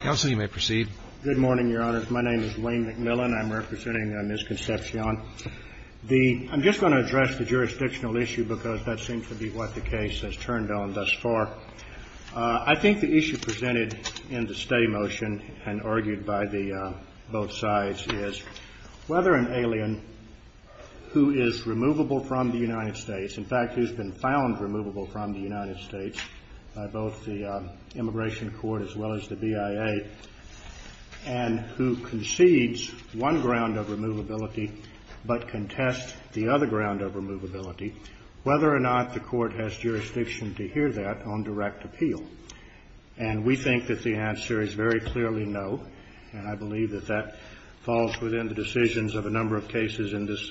Good morning, Your Honors. My name is Wayne McMillan. I'm representing Ms. Concepcion. I'm just going to address the jurisdictional issue because that seems to be what the case has turned on thus far. I think the issue presented in the steady motion and argued by both sides is whether an alien who is removable from the United States, in fact, who's been found removable from the United States by both the immigration court as well as the BIA, and who concedes one ground of removability but contests the other ground of removability, whether or not the court has jurisdiction to hear that on direct appeal. And we think that the answer is very clearly no, and I believe that that falls within the decisions of a number of cases in this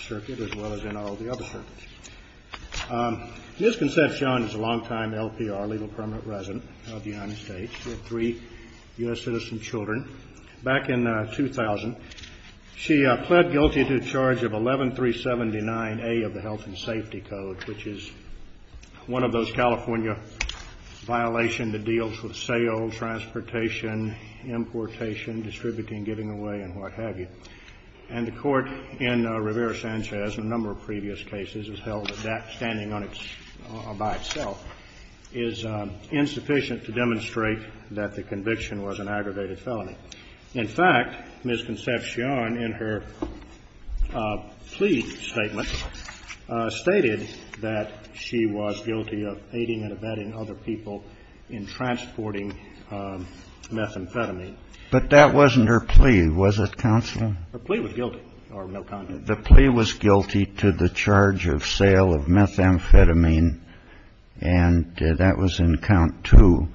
circuit as well as in all the other circuits. Ms. Concepcion is a longtime LPR, Legal Permanent Resident, of the United States with three U.S. citizen children. Back in 2000, she pled guilty to the charge of 11379A of the Health and Safety Code, which is one of those California violations that deals with sales, transportation, importation, distributing, giving away, and what have you. And the court in Rivera-Sanchez, in a number of previous cases, has held that that standing by itself is insufficient to demonstrate that the conviction was an aggravated felony. In fact, Ms. Concepcion, in her plea statement, stated that she was guilty of aiding and abetting other people in transporting methamphetamine. But that wasn't her plea, was it, Counselor? Her plea was guilty. The plea was guilty to the charge of sale of methamphetamine, and that was in count two.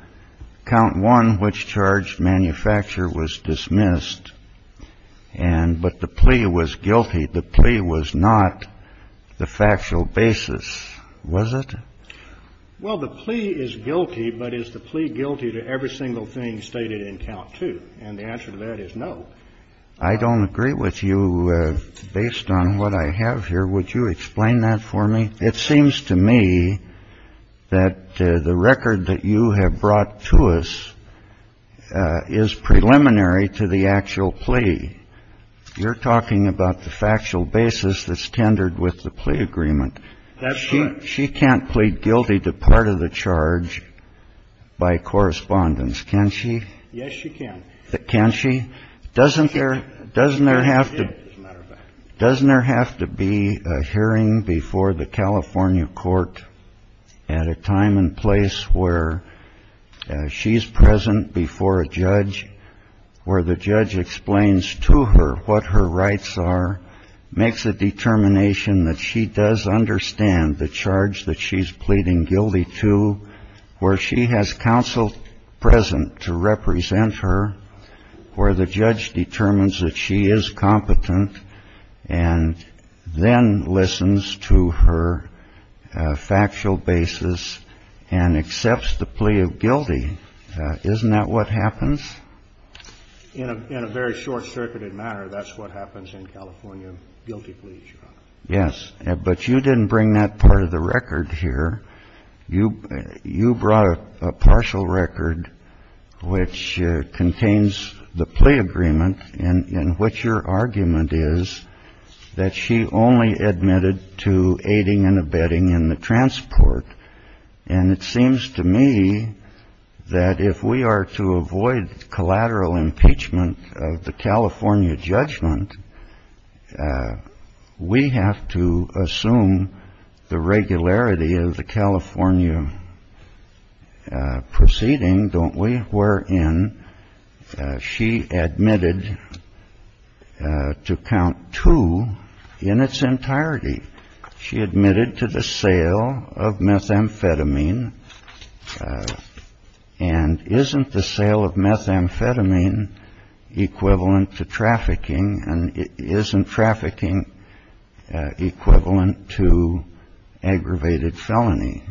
Count one, which charged manufacturer, was dismissed, but the plea was guilty. The plea was not the factual basis, was it? Well, the plea is guilty, but is the plea guilty to every single thing stated in count two? And the answer to that is no. I don't agree with you. Based on what I have here, would you explain that for me? It seems to me that the record that you have brought to us is preliminary to the actual plea. You're talking about the factual basis that's tendered with the plea agreement. That's right. She can't plead guilty to part of the charge by correspondence, can she? Yes, she can. Can she? She can. Doesn't there have to be a hearing before the California court at a time and place where she's present before a judge, where the judge explains to her what her rights are, makes a determination that she does understand the charge that she's pleading guilty to, where she has counsel present to represent her, where the judge determines that she is competent and then listens to her factual basis and accepts the plea of guilty. Isn't that what happens? In a very short-circuited manner, that's what happens in California guilty pleas, Your Honor. Yes. But you didn't bring that part of the record here. You brought a partial record which contains the plea agreement, in which your argument is that she only admitted to aiding and abetting in the transport. And it seems to me that if we are to avoid collateral impeachment of the California judgment, we have to assume the regularity of the California proceeding, don't we? Wherein she admitted to count two in its entirety. She admitted to the sale of methamphetamine. And isn't the sale of methamphetamine equivalent to trafficking? And isn't trafficking equivalent to aggravated felony?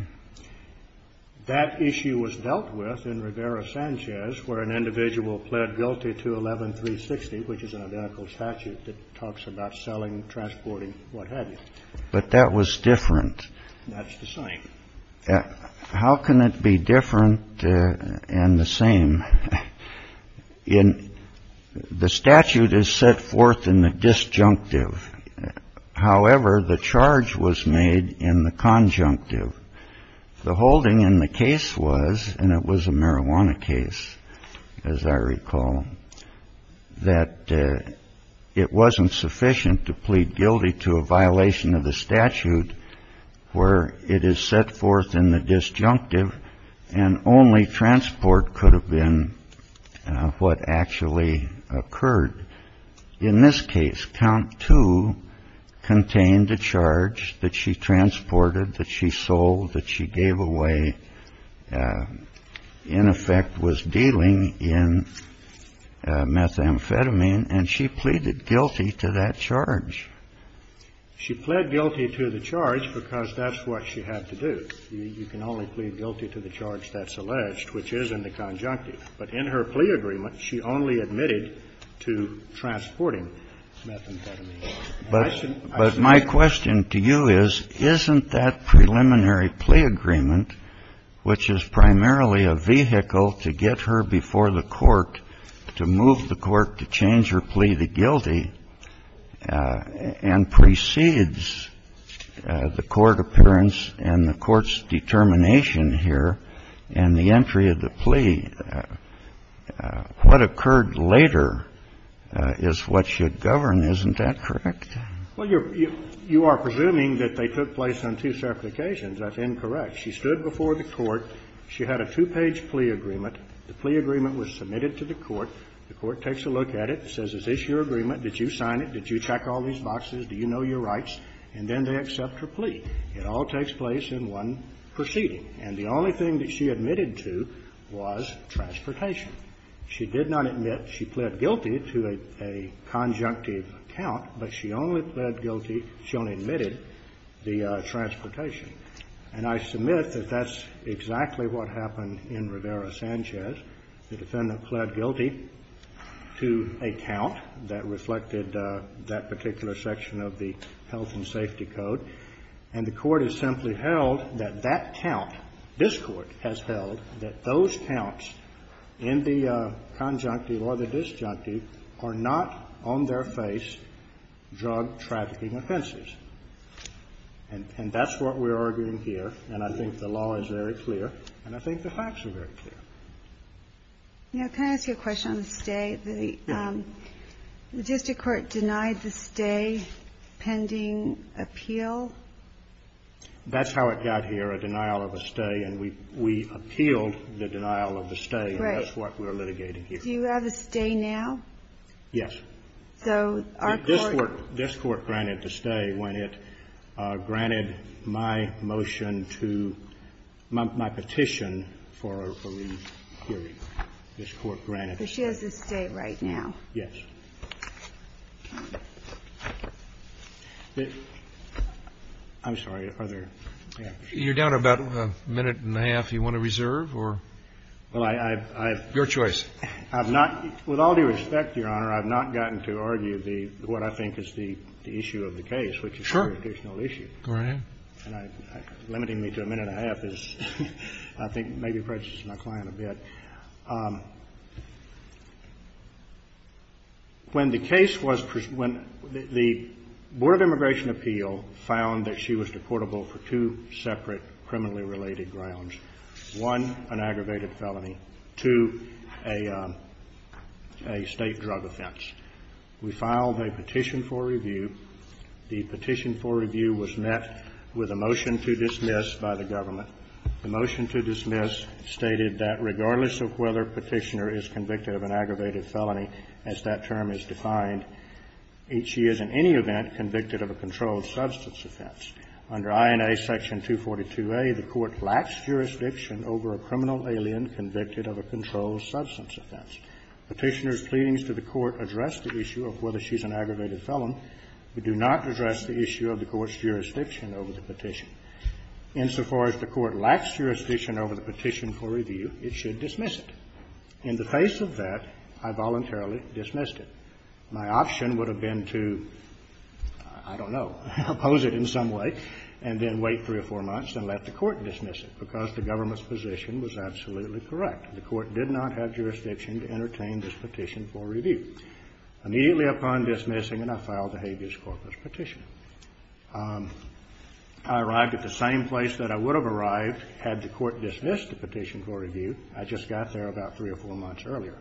That issue was dealt with in Rivera-Sanchez, where an individual pled guilty to 11-360, which is an identical statute that talks about selling, transporting, what have you. But that was different. That's the same. How can it be different and the same? The statute is set forth in the disjunctive. However, the charge was made in the conjunctive. The holding in the case was, and it was a marijuana case, as I recall, that it wasn't sufficient to plead guilty to a violation of the statute where it is set forth in the disjunctive and only transport could have been what actually occurred. In this case, count two contained the charge that she transported, that she sold, that she gave away, in effect was dealing in methamphetamine, and she pleaded guilty to that charge. She pled guilty to the charge because that's what she had to do. You can only plead guilty to the charge that's alleged, which is in the conjunctive. But in her plea agreement, she only admitted to transporting methamphetamine. But my question to you is, isn't that preliminary plea agreement, which is primarily a vehicle to get her before the court to move the court to change her plea to guilty and precedes the court appearance and the court's determination here and the entry of the plea, what occurred later is what should govern. Isn't that correct? Well, you are presuming that they took place on two separate occasions. That's incorrect. She stood before the court. She had a two-page plea agreement. The plea agreement was submitted to the court. The court takes a look at it and says, is this your agreement? Did you sign it? Did you check all these boxes? Do you know your rights? And then they accept her plea. It all takes place in one proceeding. And the only thing that she admitted to was transportation. She did not admit she pled guilty to a conjunctive count, but she only pled guilty to, she only admitted the transportation. And I submit that that's exactly what happened in Rivera-Sanchez. The defendant pled guilty to a count that reflected that particular section of the Health and Safety Code. And the court has simply held that that count, this Court has held that those counts in the conjunctive or the disjunctive are not on their face drug trafficking offenses. And that's what we're arguing here, and I think the law is very clear, and I think the facts are very clear. The district court denied the stay pending appeal? That's how it got here, a denial of a stay. And we appealed the denial of the stay. Right. And that's what we're litigating here. Do you have a stay now? Yes. So our court This Court granted the stay when it granted my motion to, my petition for a re-hearing. This Court granted a stay. So she has a stay right now? Yes. I'm sorry. Are there any other questions? You're down to about a minute and a half you want to reserve or? Well, I've Your choice. I've not, with all due respect, Your Honor, I've not gotten to argue the, what I think is the issue of the case, which is a jurisdictional issue. Sure. Go right ahead. When the case was, when the Board of Immigration Appeal found that she was deportable for two separate criminally related grounds, one, an aggravated felony, two, a state drug offense, we filed a petition for review. The petition for review was met with a motion to dismiss by the government. The motion to dismiss stated that regardless of whether Petitioner is convicted of an aggravated felony, as that term is defined, she is in any event convicted of a controlled substance offense. Under INA Section 242a, the Court lacks jurisdiction over a criminal alien convicted of a controlled substance offense. Petitioner's pleadings to the Court address the issue of whether she's an aggravated felon. We do not address the issue of the Court's jurisdiction over the petition. Insofar as the Court lacks jurisdiction over the petition for review, it should dismiss it. In the face of that, I voluntarily dismissed it. My option would have been to, I don't know, oppose it in some way and then wait three or four months and let the Court dismiss it, because the government's position was absolutely correct. The Court did not have jurisdiction to entertain this petition for review. Immediately upon dismissing it, I filed a habeas corpus petition. I arrived at the same place that I would have arrived had the Court dismissed the petition for review. I just got there about three or four months earlier,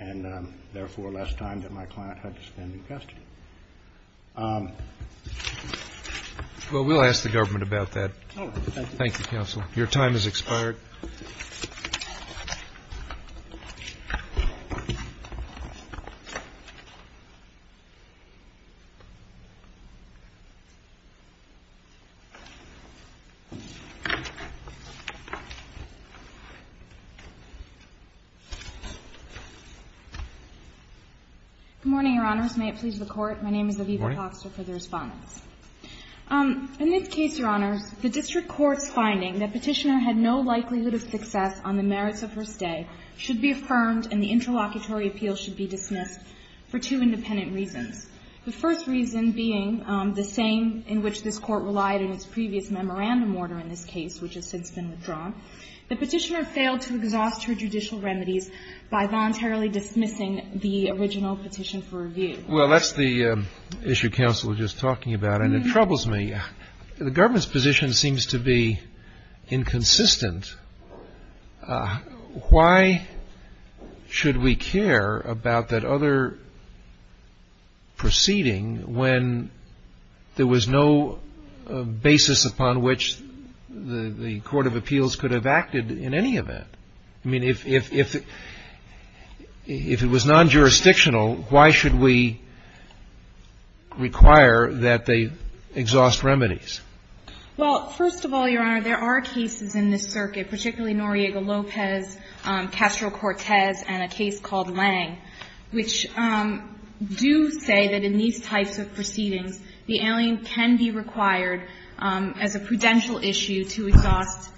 and therefore less time that my client had to spend in custody. Well, we'll ask the government about that. All right. Thank you. Thank you, Counsel. Your time has expired. Good morning, Your Honors. May it please the Court. Good morning. My name is Aviva Foxter for the Respondents. In this case, Your Honors, the district court's finding that Petitioner had no likelihood of success on the merits of her stay should be affirmed and the interlocutory appeal should be dismissed for two independent reasons. The first reason being the same in which this Court relied in its previous memorandum order in this case, which has since been withdrawn. The Petitioner failed to exhaust her judicial remedies by voluntarily dismissing the original petition for review. Well, that's the issue Counsel was just talking about, and it troubles me. The government's position seems to be inconsistent. Why should we care about that other proceeding when there was no basis upon which the Court of Appeals could have acted in any event? I mean, if it was non-jurisdictional, why should we require that they exhaust remedies? Well, first of all, Your Honor, there are cases in this circuit, particularly Noriega-Lopez, Castro-Cortez, and a case called Lang, which do say that in these types of proceedings, the alien can be required as a prudential issue to exhaust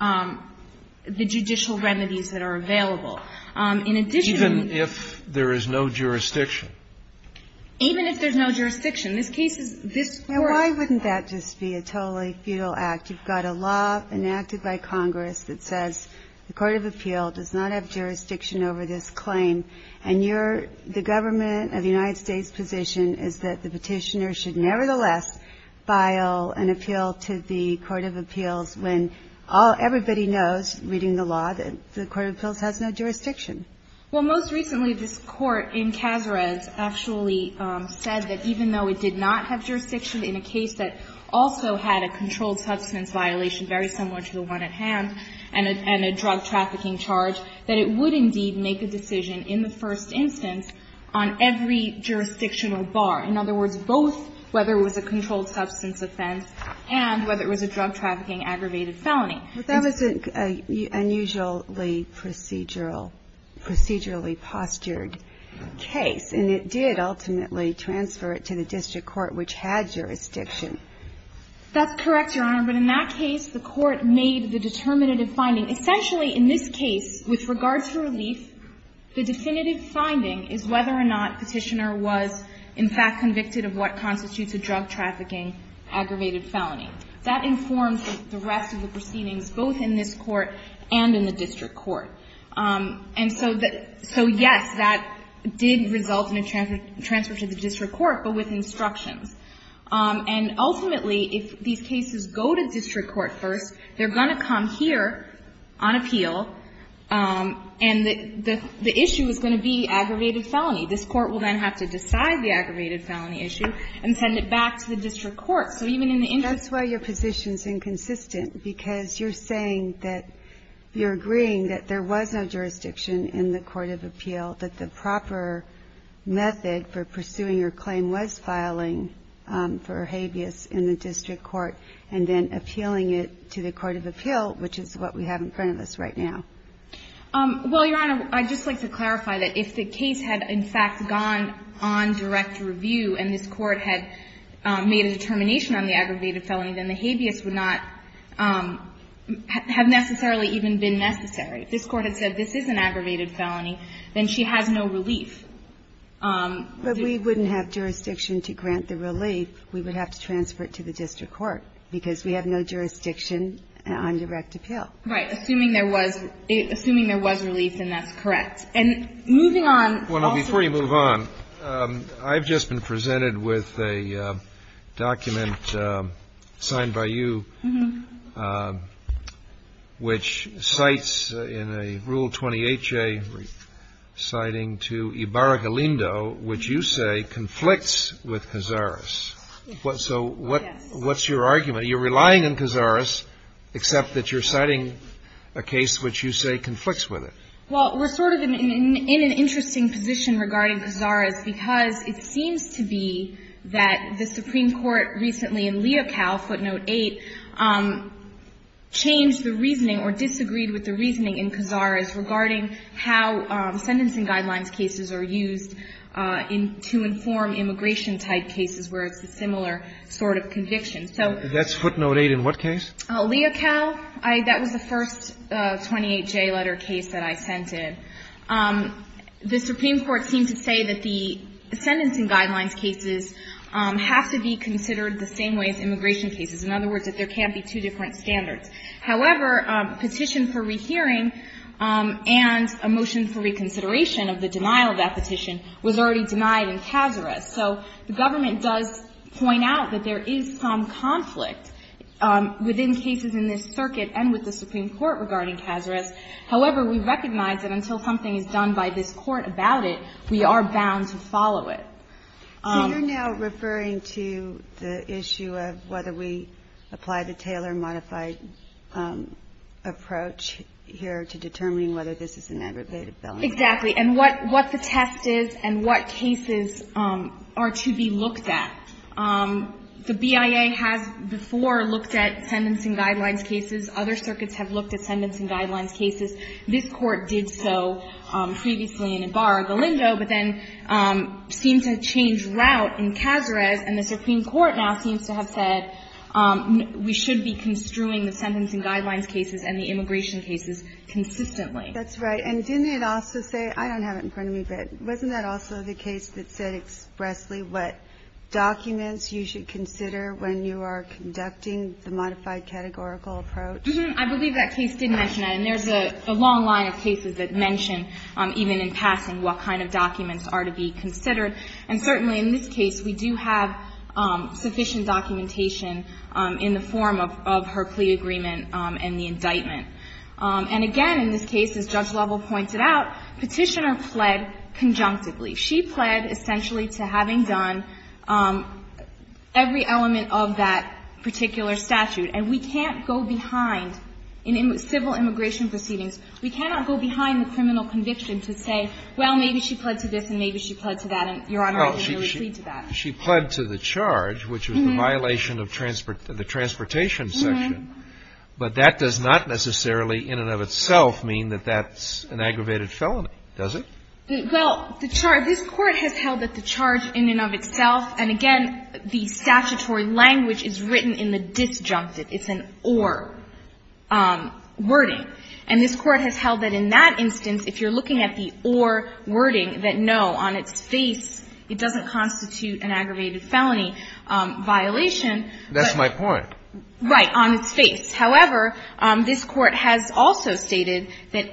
the judicial remedies that are available. In addition to the ---- Even if there is no jurisdiction? Even if there's no jurisdiction. This case is this Court ---- Now, why wouldn't that just be a totally futile act? You've got a law enacted by Congress that says the Court of Appeal does not have jurisdiction over this claim, and you're the government of the United States' position is that the Petitioner should nevertheless file an appeal to the Court of Appeals when all ---- everybody knows, reading the law, that the Court of Appeals has no jurisdiction. Well, most recently, this Court in Cazares actually said that even though it did not have jurisdiction in a case that also had a controlled substance violation very similar to the one at hand and a drug trafficking charge, that it would indeed make a decision in the first instance on every jurisdictional bar. In other words, both whether it was a controlled substance offense and whether it was a drug trafficking aggravated felony. But that was an unusually procedural, procedurally postured case. And it did ultimately transfer it to the district court, which had jurisdiction. That's correct, Your Honor. But in that case, the Court made the determinative finding. Essentially, in this case, with regard to relief, the definitive finding is whether or not Petitioner was in fact convicted of what constitutes a drug trafficking aggravated felony. That informs the rest of the proceedings, both in this Court and in the district court. And so the ---- so, yes, that did result in a transfer to the district court, but with instructions. And ultimately, if these cases go to district court first, they're going to come here on appeal, and the issue is going to be aggravated felony. This Court will then have to decide the aggravated felony issue and send it back to the district court. So even in the instance ---- That's why your position is inconsistent, because you're saying that you're agreeing that there was no jurisdiction in the court of appeal, that the proper method for pursuing your claim was filing for habeas in the district court and then appealing it to the court of appeal, which is what we have in front of us right now. Well, Your Honor, I'd just like to clarify that if the case had in fact gone on direct review and this Court had made a determination on the aggravated felony, then the habeas would not have necessarily even been necessary. If this Court had said this is an aggravated felony, then she has no relief. But we wouldn't have jurisdiction to grant the relief. We would have to transfer it to the district court, because we have no jurisdiction on direct appeal. Right. Assuming there was relief and that's correct. And moving on ---- Well, now, before you move on, I've just been presented with a document signed by you which cites in a Rule 20HA citing to Ibarra-Galindo, which you say conflicts with Cazares. So what's your argument? You're relying on Cazares, except that you're citing a case which you say conflicts with it. Well, we're sort of in an interesting position regarding Cazares because it seems to be that the Supreme Court recently in Leocal, footnote 8, changed the reasoning or disagreed with the reasoning in Cazares regarding how sentencing guidelines cases are used to inform immigration-type cases where it's a similar sort of conviction. That's footnote 8 in what case? Leocal. That was the first 28J letter case that I sent in. The Supreme Court seemed to say that the sentencing guidelines cases have to be considered the same way as immigration cases, in other words, that there can't be two different standards. However, petition for rehearing and a motion for reconsideration of the denial of that petition was already denied in Cazares. So the government does point out that there is some conflict within cases in this circuit and with the Supreme Court regarding Cazares. However, we recognize that until something is done by this Court about it, we are bound to follow it. So you're now referring to the issue of whether we apply the Taylor modified approach here to determining whether this is an aggravated felony? Exactly. And what the test is and what cases are to be looked at. The BIA has before looked at sentencing guidelines cases. Other circuits have looked at sentencing guidelines cases. This Court did so previously in Ibarra-Galindo, but then seemed to change route in Cazares, and the Supreme Court now seems to have said we should be construing the sentencing guidelines cases and the immigration cases consistently. That's right. And didn't it also say, I don't have it in front of me, but wasn't that also the case that said expressly what documents you should consider when you are conducting the modified categorical approach? I believe that case did mention that, and there's a long line of cases that mention even in passing what kind of documents are to be considered. And certainly in this case, we do have sufficient documentation in the form of her plea agreement and the indictment. And again, in this case, as Judge Lovell pointed out, Petitioner pled conjunctively. She pled essentially to having done every element of that particular statute. And we can't go behind in civil immigration proceedings, we cannot go behind the criminal conviction to say, well, maybe she pled to this and maybe she pled to that and, Your Honor, I can really plead to that. Well, she pled to the charge, which was the violation of the transportation section, but that does not necessarily in and of itself mean that that's an aggravated felony, does it? Well, the charge, this Court has held that the charge in and of itself, and again, the statutory language is written in the disjunctive. It's an or wording. And this Court has held that in that instance, if you're looking at the or wording that no, on its face, it doesn't constitute an aggravated felony violation. That's my point. Right. On its face. However, this Court has also stated that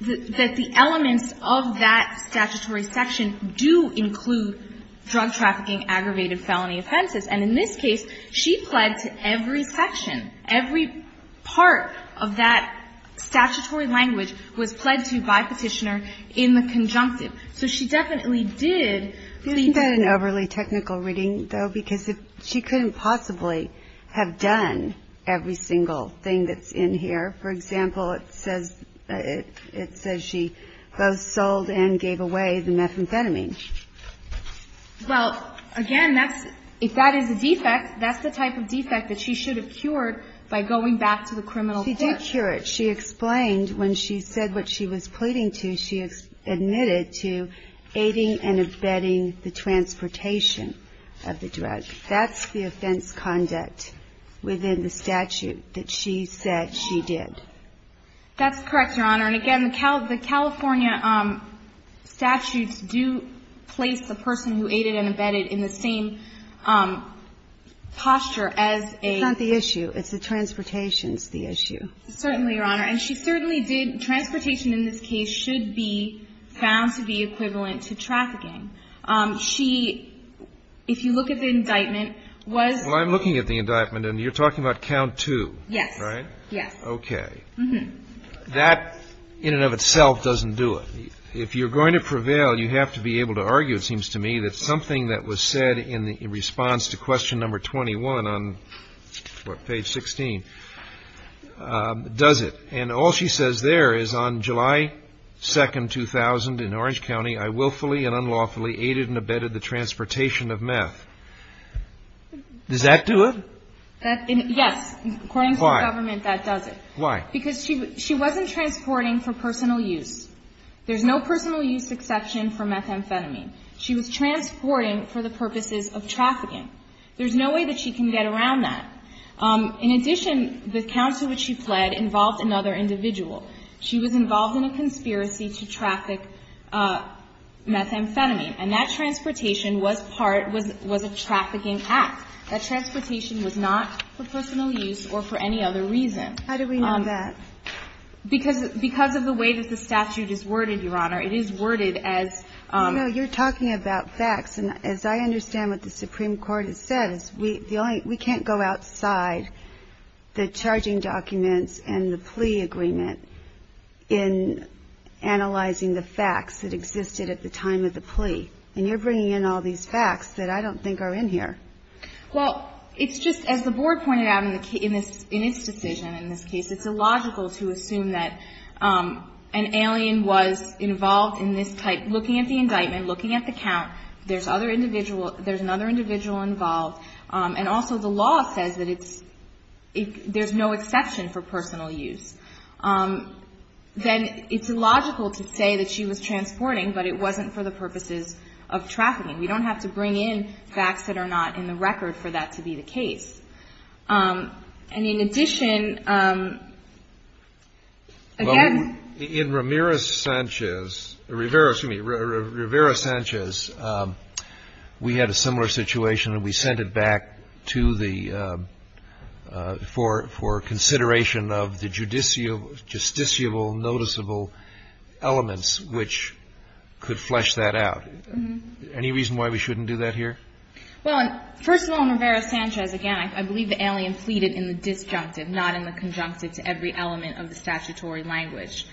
the elements of that statutory section do include drug trafficking, aggravated felony offenses. And in this case, she pled to every section, every part of that statutory language was pled to by Petitioner in the conjunctive. So she definitely did plead to that. It's an overly technical reading, though, because she couldn't possibly have done every single thing that's in here. For example, it says she both sold and gave away the methamphetamine. Well, again, if that is a defect, that's the type of defect that she should have cured by going back to the criminal court. She did cure it. She explained when she said what she was pleading to, she admitted to aiding and abetting the transportation of the drug. That's the offense conduct within the statute that she said she did. That's correct, Your Honor. And again, the California statutes do place the person who aided and abetted in the same posture as a ---- It's not the issue. It's the transportation's the issue. Certainly, Your Honor. And she certainly did. Transportation in this case should be found to be equivalent to trafficking. She, if you look at the indictment, was ---- Well, I'm looking at the indictment, and you're talking about count two, right? Yes. Okay. That in and of itself doesn't do it. If you're going to prevail, you have to be able to argue, it seems to me, that something that was said in response to question number 21 on page 16 does it. And all she says there is, on July 2, 2000, in Orange County, I willfully and unlawfully aided and abetted the transportation of meth. Does that do it? Yes. Why? According to the government, that does it. Why? Because she wasn't transporting for personal use. There's no personal use exception for methamphetamine. She was transporting for the purposes of trafficking. There's no way that she can get around that. In addition, the counts to which she fled involved another individual. She was involved in a conspiracy to traffic methamphetamine. And that transportation was part ---- was a trafficking act. That transportation was not for personal use or for any other reason. How do we know that? Because of the way that the statute is worded, Your Honor. It is worded as ---- No. You're talking about facts. And as I understand what the Supreme Court has said, we can't go outside the charging documents and the plea agreement in analyzing the facts that existed at the time of the plea. And you're bringing in all these facts that I don't think are in here. Well, it's just, as the Board pointed out in its decision in this case, it's illogical to assume that an alien was involved in this type ---- there's other individual ---- there's another individual involved. And also the law says that it's ---- there's no exception for personal use. Then it's illogical to say that she was transporting, but it wasn't for the purposes of trafficking. We don't have to bring in facts that are not in the record for that to be the case. And in addition, again ---- Ramirez-Sanchez, Rivera, excuse me, Rivera-Sanchez, we had a similar situation and we sent it back to the ---- for consideration of the justiciable, noticeable elements which could flesh that out. Any reason why we shouldn't do that here? Well, first of all, Rivera-Sanchez, again, I believe the alien pleaded in the disjunctive, not in the conjunctive, to every element of the statutory language.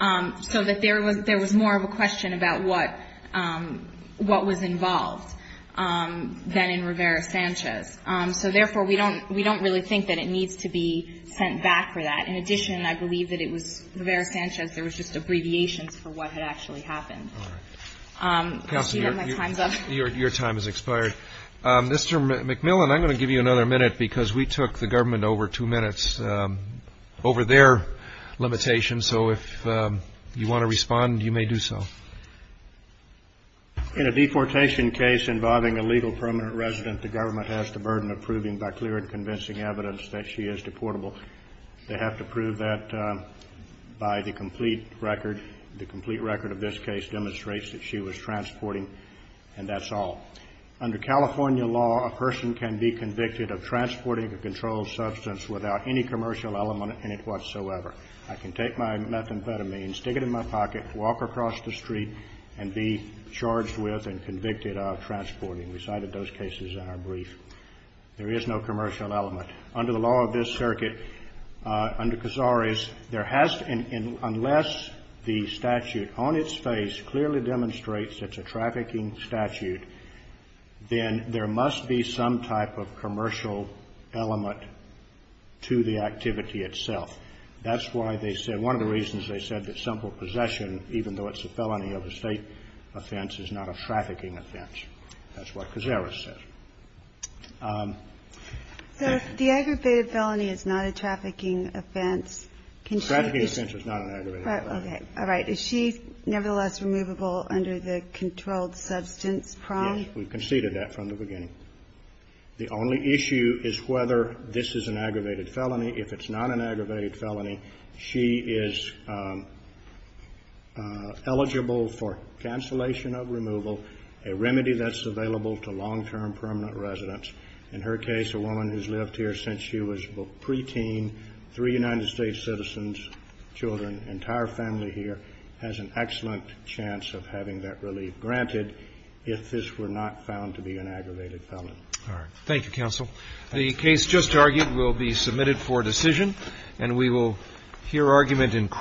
So that there was more of a question about what was involved than in Rivera-Sanchez. So, therefore, we don't really think that it needs to be sent back for that. In addition, I believe that it was Rivera-Sanchez, there was just abbreviations for what had actually happened. Counselor, your time has expired. Mr. McMillan, I'm going to give you another minute, because we took the government over two minutes over their limitations, so if you want to respond, you may do so. In a deportation case involving a legal permanent resident, the government has the burden of proving by clear and convincing evidence that she is deportable. They have to prove that by the complete record. The complete record of this case demonstrates that she was transporting, and that's all. Under California law, a person can be convicted of transporting a controlled substance without any commercial element in it whatsoever. I can take my methamphetamine, stick it in my pocket, walk across the street, and be charged with and convicted of transporting. We cited those cases in our brief. There is no commercial element. Under the law of this circuit, under Cazares, there has to be, unless the statute on its face clearly demonstrates it's a trafficking statute, then there must be some type of commercial element to the activity itself. That's why they said, one of the reasons they said that simple possession, even though it's a felony of a state offense, is not a trafficking offense. That's what Cazares said. The aggravated felony is not a trafficking offense. Trafficking offense is not an aggravated offense. All right. Is she nevertheless removable under the controlled substance prong? Yes. We conceded that from the beginning. The only issue is whether this is an aggravated felony. If it's not an aggravated felony, she is eligible for cancellation of removal, a remedy that's available to long-term permanent residents. In her case, a woman who's lived here since she was pre-teen, three United States citizens, children, entire family here, has an excellent chance of having that relief, granted if this were not found to be an aggravated felony. All right. Thank you, counsel. The case just argued will be submitted for decision, and we will hear argument in court.